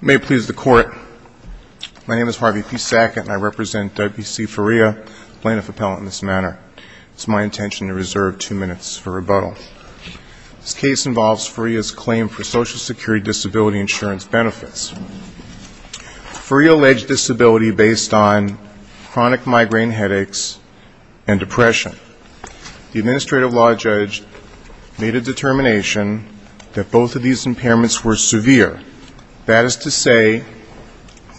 May it please the court. My name is Harvey P. Sackett and I represent W.C. Faria, plaintiff appellant in this manner. It's my intention to reserve two minutes for rebuttal. This case involves Faria's claim for Social Security disability insurance benefits. Faria alleged disability based on chronic migraine headaches and depression. The administrative law judge made a is to say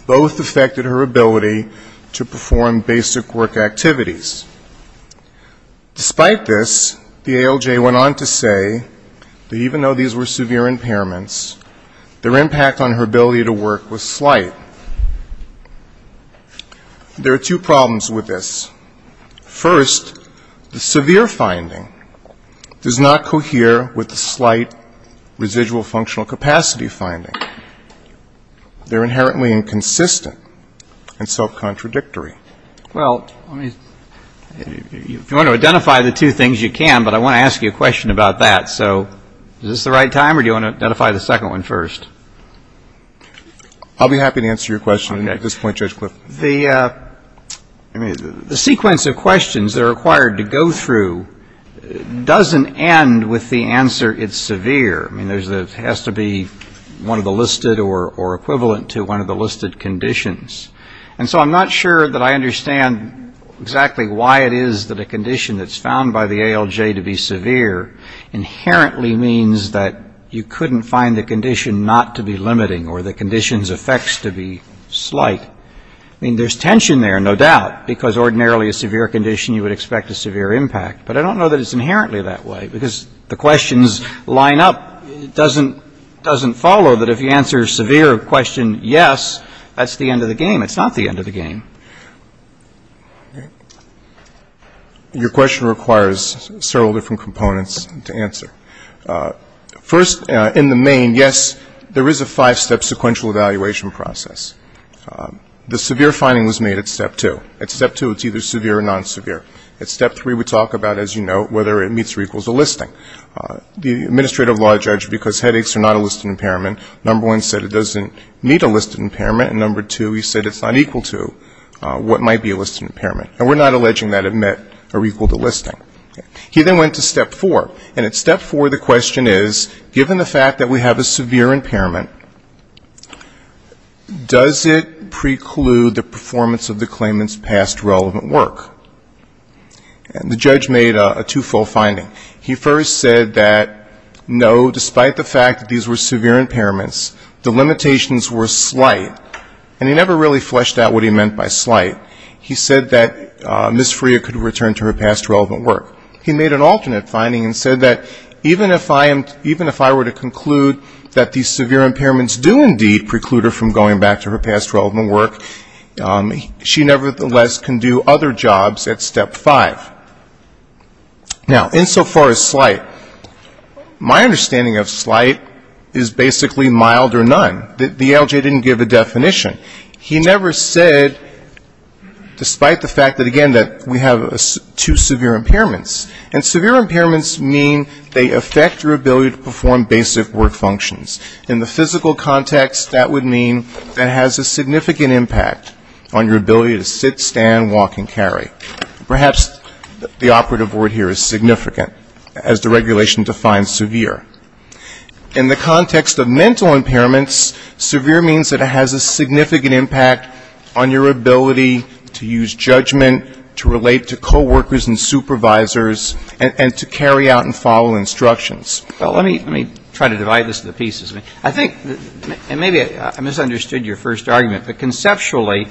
both affected her ability to perform basic work activities. Despite this, the ALJ went on to say that even though these were severe impairments, their impact on her ability to work was slight. There are two problems with this. First, the is that they're inherently inconsistent and self-contradictory. Well, if you want to identify the two things, you can, but I want to ask you a question about that. So is this the right time or do you want to identify the second one first? I'll be happy to answer your question at this point, Judge Cliff. The sequence of questions that are required to go through doesn't end with the answer it's severe. I mean, it has to be one of the listed or equivalent to one of the listed conditions. And so I'm not sure that I understand exactly why it is that a condition that's found by the ALJ to be severe inherently means that you couldn't find the condition not to be limiting or the condition's effects to be slight. I mean, there's tension there, no doubt, because ordinarily a severe condition, you would expect a severe impact. But I don't know that it's inherently that way, because the questions line up. It doesn't follow that if you answer a severe question, yes, that's the end of the game. It's not the end of the game. Your question requires several different components to answer. First, in the main, yes, there is a five-step sequential evaluation process. The severe finding was made at step two. At step three, we asked the judge whether it meets or equals a listing. The administrative law judge, because headaches are not a listed impairment, number one said it doesn't meet a listed impairment, and number two, he said it's not equal to what might be a listed impairment. And we're not alleging that it met or equaled a listing. He then went to step four. And at step four, the question is, given the fact that we have a severe impairment, does it preclude the performance of the claimant's past relevant work? And the judge made a two-fold finding. He first said that, no, despite the fact that these were severe impairments, the limitations were slight. And he never really fleshed out what he meant by slight. He said that Ms. Freer could return to her past relevant work. He made an alternate finding and said that, even if I were to conclude that these severe impairments do indeed preclude her from going back to her past relevant work, she nevertheless can do other jobs at step five. Now insofar as slight, my understanding of slight is basically mild or none. The LJ didn't give a definition. He never said, despite the fact that, again, that we have two severe impairments. And severe impairments mean they affect your ability to perform basic work functions. In the physical context, that would mean that it has a significant impact on your ability to sit, stand, walk, and carry. Perhaps the operative word here is significant, as the regulation defines severe. In the context of mental impairments, severe means that it has a significant impact on your ability to use judgment, to relate to coworkers and supervisors, and to carry out and follow instructions. Well, let me try to divide this into pieces. I think, and maybe I misunderstood your first question, actually,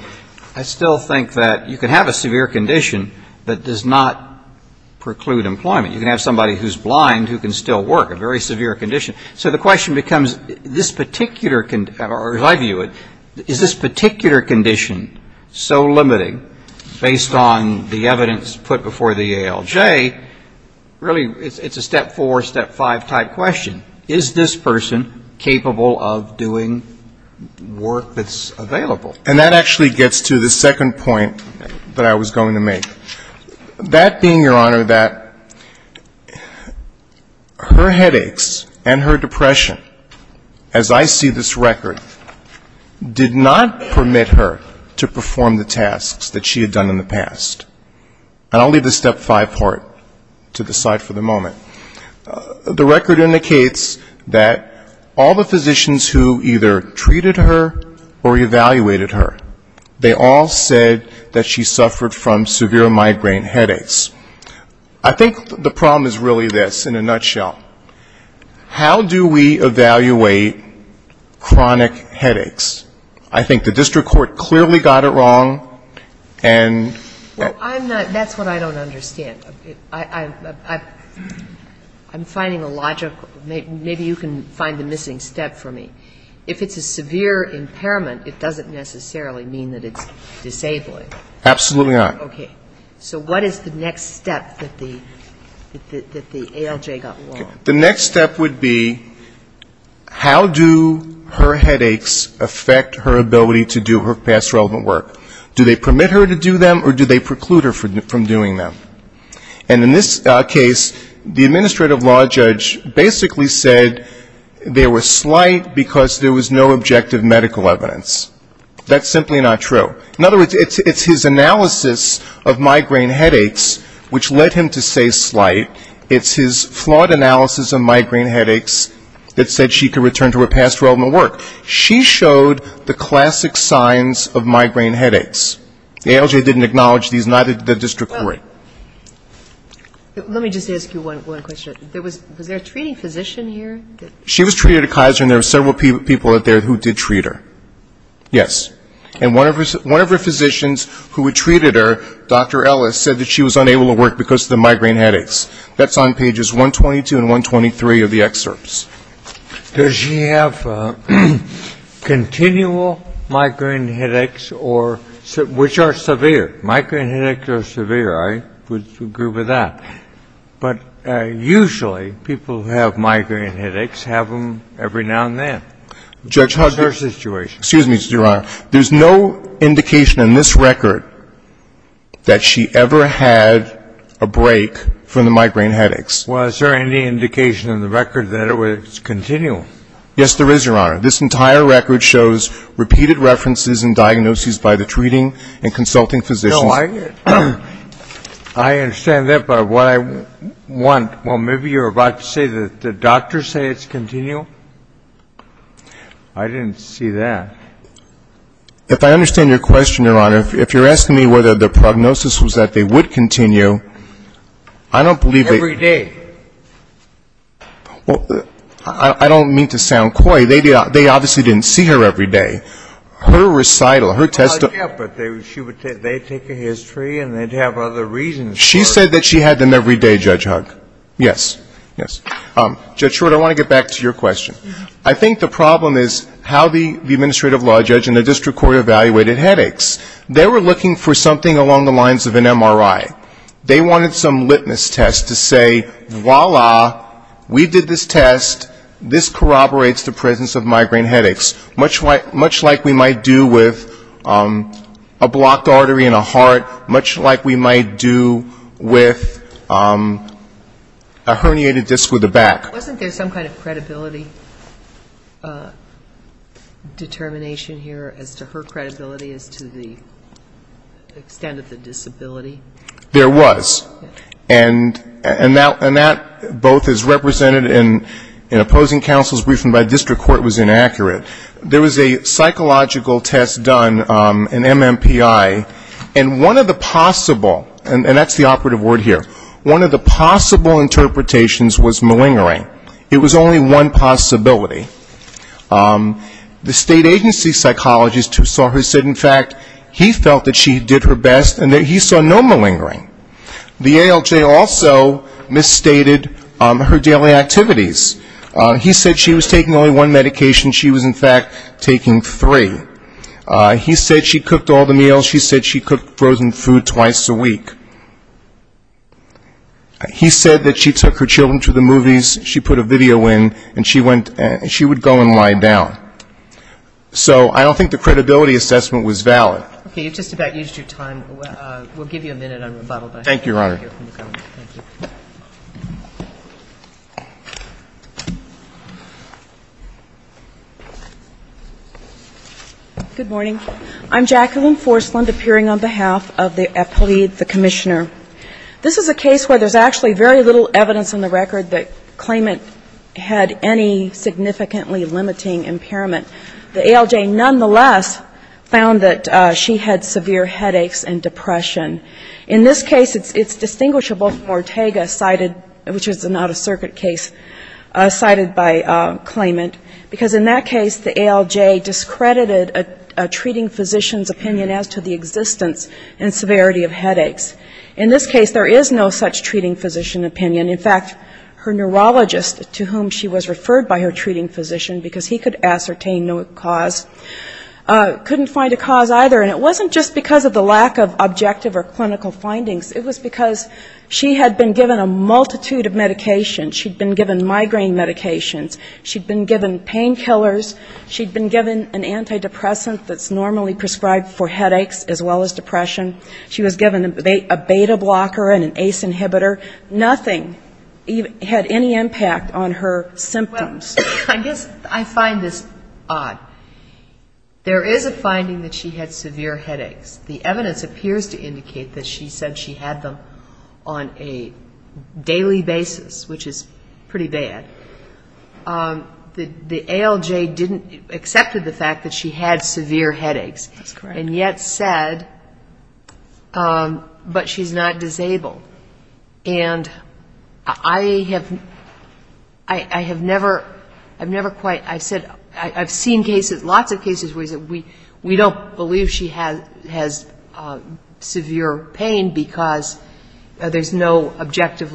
I still think that you can have a severe condition that does not preclude employment. You can have somebody who's blind who can still work, a very severe condition. So the question becomes, this particular, or as I view it, is this particular condition so limiting, based on the evidence put before the ALJ, really it's a step four, step five type question. Is this person capable of doing work that's available? And that actually gets to the second point that I was going to make. That being, Your Honor, that her headaches and her depression, as I see this record, did not permit her to perform the tasks that she had done in the past. And I'll leave the step five part to the side for the moment. The record indicates that all the physicians who either treated her or evaluated her, they all said that she suffered from severe migraine headaches. I think the problem is really this, in a nutshell. How do we evaluate chronic headaches? I think the district court clearly got it wrong, and that's what I don't understand. I'm finding a logical, maybe you can find the missing step for me. If it's a severe impairment, it doesn't necessarily mean that it's disabling. Absolutely not. Okay. So what is the next step that the ALJ got wrong? The next step would be, how do her headaches affect her ability to do her past relevant work? Do they permit her to do them, or do they preclude her from doing them? And in this case, the administrative law judge basically said they were slight because there was no objective medical evidence. That's simply not true. In other words, it's his analysis of migraine headaches which led him to say slight. It's his flawed analysis of migraine headaches that said she could return to her past relevant work. She showed the classic signs of migraine headaches. The ALJ didn't acknowledge these, neither did the district court. Let me just ask you one question. Was there a treating physician here? She was treated at Kaiser, and there were several people there who did treat her. Yes. And one of her physicians who had treated her, Dr. Ellis, said that she was unable to work because of the migraine headaches. That's on pages 122 and 123 of the excerpts. Does she have continual migraine headaches or ‑‑ which are severe, migraine headaches are severe. I would agree with that. But usually, people who have migraine headaches have them every now and then. That's her situation. Judge Hager, excuse me, Your Honor. There's no indication in this record that she ever had a break from the migraine headaches. Yes, there is, Your Honor. This entire record shows repeated references and diagnoses by the treating and consulting physicians. No, I understand that. But what I want ‑‑ well, maybe you're about to say that the doctors say it's continual? I didn't see that. If I understand your question, Your Honor, if you're asking me whether the prognosis was that they would continue, I don't believe that ‑‑ Every day. Well, I don't mean to sound coy. They obviously didn't see her every day. Her recital, her testimony ‑‑ Yeah, but they take a history and they'd have other reasons for it. She said that she had them every day, Judge Hugg. Yes, yes. Judge Short, I want to get back to your question. I think the problem is how the administrative law judge and the district court evaluated headaches. They were looking for something along the lines of an MRI. They wanted some litmus test to say, voila, we did this test, this corroborates the presence of migraine headaches, much like we might do with a blocked artery in a heart, much like we might do with a herniated disc with a back. Wasn't there some kind of credibility determination here as to her credibility as to the extent of the disability? There was. And that both is represented in opposing counsel's briefing by district court was inaccurate. There was a psychological test done, an MMPI, and one of the possible, and that's the operative word here, one of the possible interpretations was malingering. It was only one possibility. The state agency psychologist who saw her said, in fact, he felt that she did her best and that he saw no malingering. The ALJ also misstated her daily activities. He said she was taking only one medication. She was, in fact, taking three. He said she cooked all the meals. She said she cooked frozen food twice a week. He said that she took her children to the movies, she put a video in, and she went and she would go and lie down. So I don't think the credibility assessment was valid. Okay. You've just about used your time. We'll give you a minute on rebuttal. Thank you, Your Honor. Good morning. I'm Jacqueline Forslund, appearing on behalf of the appellee, the commissioner. This is a case where there's actually very little evidence on the record that claimant had any significantly limiting impairment. The ALJ nonetheless found that she had severe headaches and depression. In this case, it's distinguishable from Ortega cited, which is an out-of-circuit case, cited by claimant. Because in that case, the ALJ discredited a treating physician's opinion as to the existence and severity of headaches. In this case, there is no such treating physician opinion. In fact, her neurologist to whom she was referred by her treating physician, because he could ascertain no cause, couldn't find a subjective or clinical findings. It was because she had been given a multitude of medications. She'd been given migraine medications. She'd been given painkillers. She'd been given an antidepressant that's normally prescribed for headaches as well as depression. She was given a beta blocker and an ACE inhibitor. Nothing had any impact on her symptoms. I guess I find this odd. There is a finding that she had severe headaches. The evidence appears to be that she had them on a daily basis, which is pretty bad. The ALJ accepted the fact that she had severe headaches and yet said, but she's not disabled. And I have never quite, I've seen cases, lots of cases where we don't believe she has severe headaches. She has severe pain because there's no objective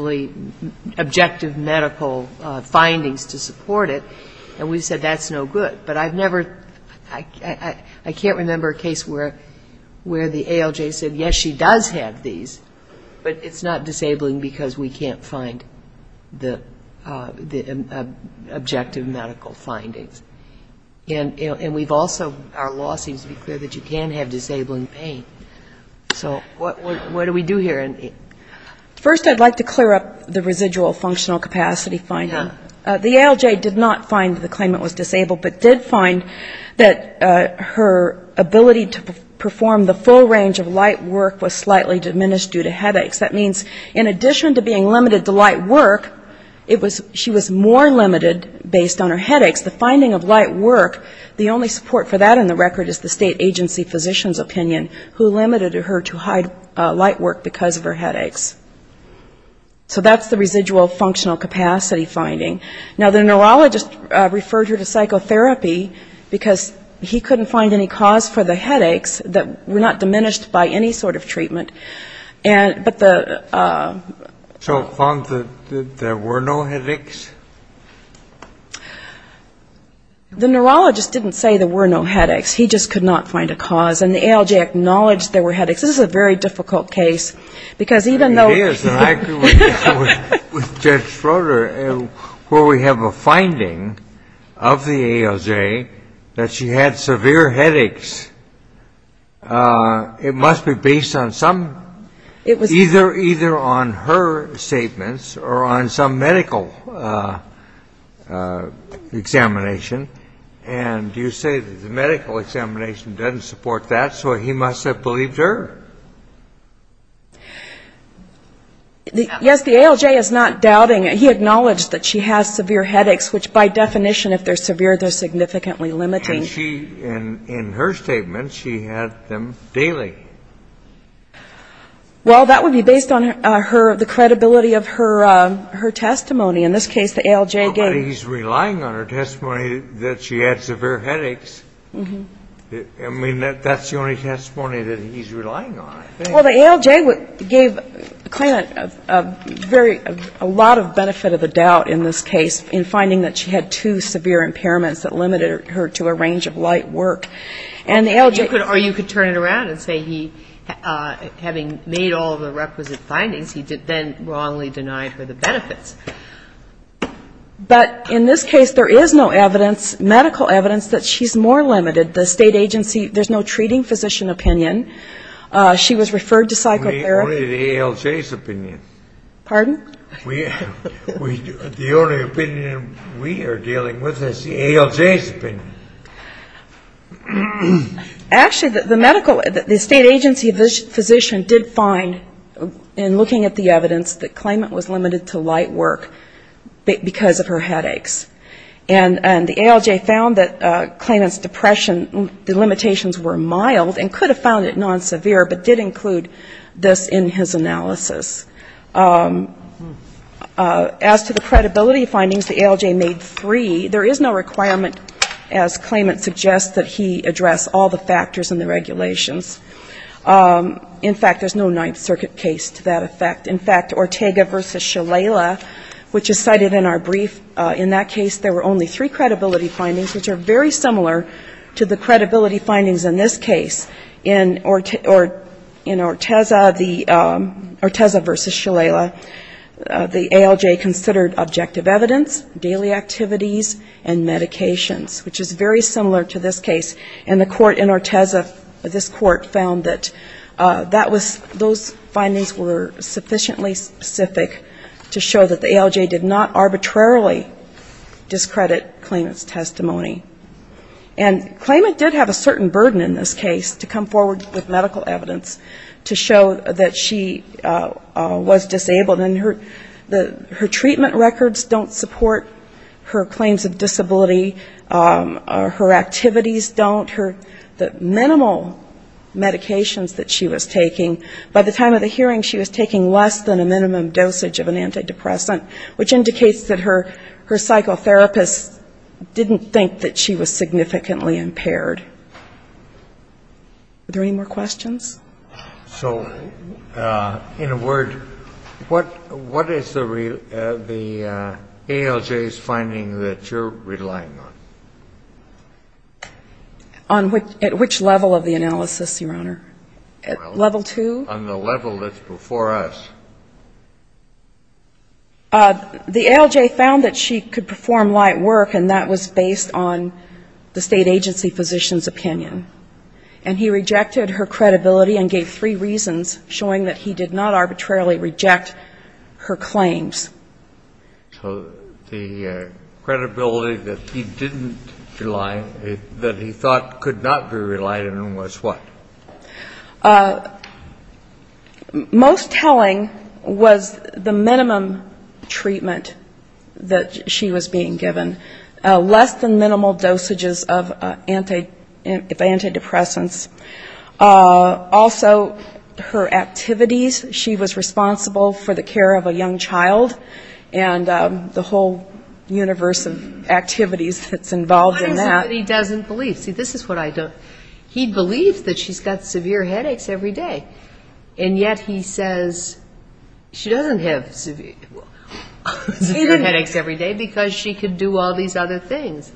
medical findings to support it, and we've said that's no good. But I've never, I can't remember a case where the ALJ said, yes, she does have these, but it's not disabling because we can't find the objective medical findings. And we've also, our law seems to be clear that you can have disabling pain. So what do we do here? First I'd like to clear up the residual functional capacity finding. The ALJ did not find the claimant was disabled, but did find that her ability to perform the full range of light work was slightly diminished due to headaches. That means in addition to being limited to light work, it was, she was more limited based on her headaches. The finding of light work, the only support for that in the record is the state agency physician's opinion, who limited her to light work because of her headaches. So that's the residual functional capacity finding. Now, the neurologist referred her to psychotherapy because he couldn't find any cause for the headaches that were not diminished by any sort of treatment. But the ‑‑ So found that there were no headaches? The neurologist didn't say there were no headaches. He just could not find a cause. And the ALJ acknowledged there were headaches. This is a very difficult case, because even though ‑‑ It is. And I agree with Judge Schroeder, where we have a finding of the ALJ that she had severe headaches. It must be based on some, either on her statements or on some medical examination. And you say that the medical examination doesn't support that, so he must have believed her. Yes, the ALJ is not doubting. He acknowledged that she has severe headaches, which by definition, if they're severe, they're because of her statements. She had them daily. Well, that would be based on her, the credibility of her testimony. In this case, the ALJ gave ‑‑ But he's relying on her testimony that she had severe headaches. I mean, that's the only testimony that he's relying on, I think. Well, the ALJ gave Klain a lot of benefit of the doubt in this case in finding that she had two severe impairments that limited her to a range of light work. Or you could turn it around and say he, having made all the requisite findings, he then wrongly denied her the benefits. But in this case, there is no evidence, medical evidence, that she's more limited. The state agency, there's no treating physician opinion. She was referred to psychotherapy. Only the ALJ's opinion. Pardon? The only opinion we are dealing with is the ALJ's opinion. Actually, the state agency physician did find, in looking at the evidence, that Klain was limited to light work because of her headaches. And the ALJ found that Klain's depression limitations were mild and could have found it non-severe, but did include this in his analysis. As to the credibility findings, the ALJ made three. There is no requirement, as claimant suggests, that he address all the factors in the regulations. In fact, there's no Ninth Circuit case to that effect. In fact, Ortega v. Shalala, which is cited in our brief, in that case, there were only three credibility findings, which are very similar to the credibility findings that the ALJ considered objective evidence, daily activities, and medications, which is very similar to this case. And the court in Ortega, this court, found that that was, those findings were sufficiently specific to show that the ALJ did not arbitrarily discredit Klain's testimony. And Klain did have a certain burden in this case to come forward with medical evidence to show that she was disabled in her disability. Her treatment records don't support her claims of disability. Her activities don't. The minimal medications that she was taking, by the time of the hearing, she was taking less than a minimum dosage of an antidepressant, which indicates that her psychotherapists didn't think that she was significantly impaired. Are there any more questions? What is the ALJ's finding that you're relying on? On which level of the analysis, Your Honor? Well, on the level that's before us. The ALJ found that she could perform light work, and that was based on the State Agency Physician's opinion. And he rejected her credibility and gave three reasons, showing that he did not arbitrarily reject her testimony. So the credibility that he didn't rely on, that he thought could not be relied on was what? Most telling was the minimum treatment that she was being given. Less than minimal dosages of antidepressants. Also, her activities. She was responsible for the care of a young child, and the whole universe of activities that's involved in that. What is it that he doesn't believe? See, this is what I don't. He believes that she's got severe headaches every day, and yet he says she doesn't have severe headaches every day because she can do all these other things.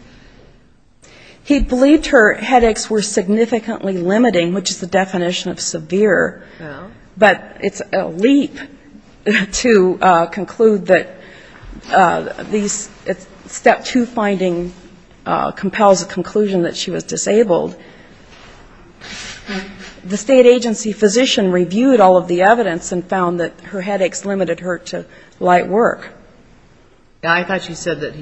He believed her headaches were significantly limiting, which is the definition of severe, but it's a leap to conclude that these step two findings compels a conclusion that she was disabled. The State Agency Physician reviewed all of the evidence and found that her headaches limited her to light work. I thought you said that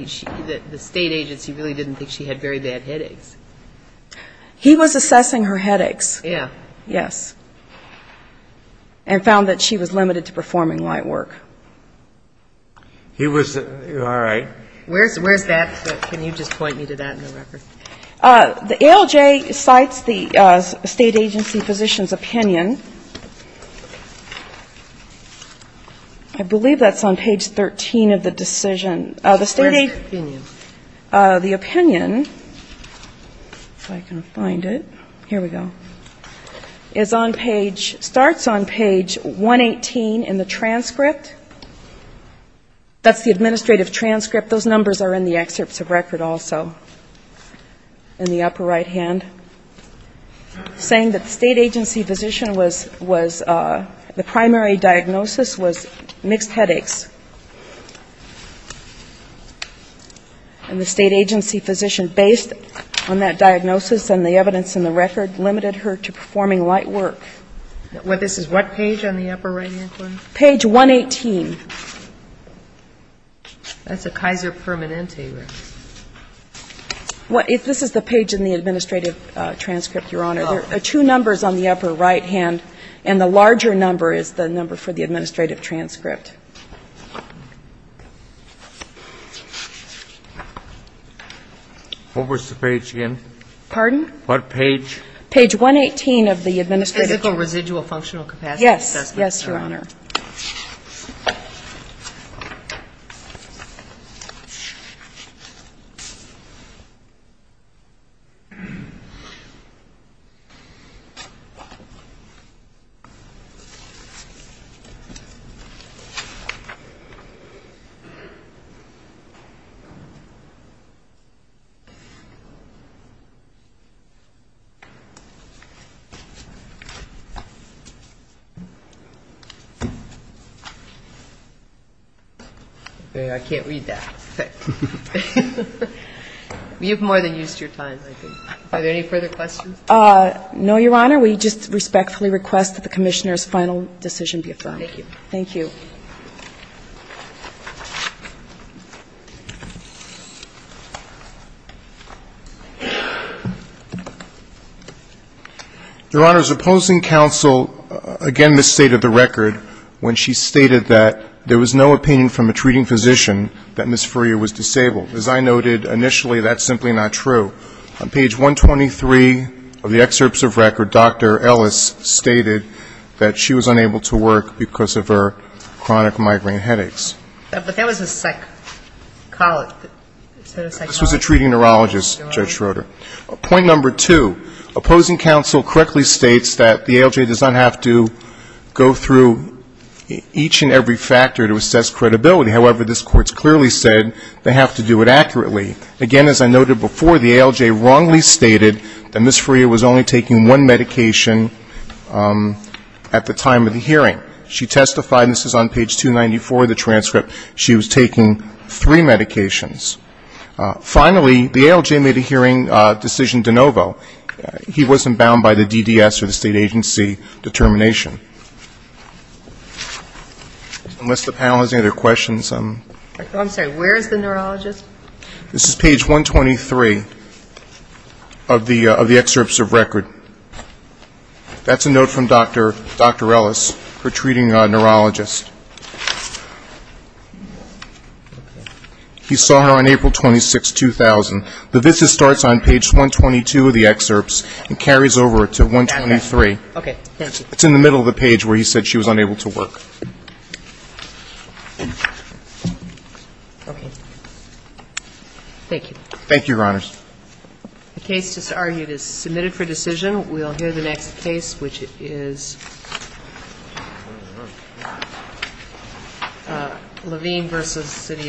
the State Agency really didn't think she had very bad headaches. He was assessing her headaches. Yes. And found that she was limited to performing light work. All right. Where's that? Can you just point me to that in the record? The ALJ cites the State Agency Physician's opinion. I believe that's on page 13 of the decision. Where's the opinion? The opinion, if I can find it. Here we go. It's on page, starts on page 118 in the transcript. That's the administrative transcript. Those numbers are in the excerpts of record also in the upper right-hand. Saying that the State Agency Physician was, the primary diagnosis was mixed headaches. And the State Agency Physician, based on that diagnosis and the evidence in the record, limited her to performing light work. This is what page on the upper right-hand corner? Page 118. That's a Kaiser Permanente. This is the page in the administrative transcript, Your Honor. There are two numbers on the upper right-hand, and the larger number is the number for the administrative transcript. What was the page again? Pardon? What page? Page 118 of the administrative transcript. Yes, Your Honor. I can't read that. You've more than used your time, I think. Are there any further questions? No, Your Honor, we just respectfully request that the Commissioner's final decision be affirmed. Thank you. Your Honor, supposing counsel, again, misstated the record when she stated that there was no opinion from a treating physician that Ms. Furrier was disabled. As I noted initially, that's simply not true. On page 123 of the excerpts of record, Dr. Ellis stated that she was unable to work because of her chronic migraine headaches. This was a treating neurologist, Judge Schroeder. Point number two, opposing counsel correctly states that the ALJ does not have to go through each and every factor to assess credibility. However, this Court's clearly said they have to do it accurately. Again, as I noted before, the ALJ wrongly stated that Ms. Furrier was only taking one medication at the time of the hearing. She testified, and this is on page 294 of the transcript, she was taking three medications. Finally, the ALJ made a hearing decision de novo. He wasn't bound by the DDS or the state agency determination. Unless the panel has any other questions. I'm sorry, where is the neurologist? This is page 123 of the excerpts of record. That's a note from Dr. Ellis, her treating neurologist. He saw her on April 26, 2000. The VISTA starts on page 122 of the excerpts and carries over to 123. It's in the middle of the page where he said she was unable to work. Okay. Thank you. Thank you, Your Honors. The case just argued is submitted for decision. We'll hear the next case, which is Levine v. City of Alameda.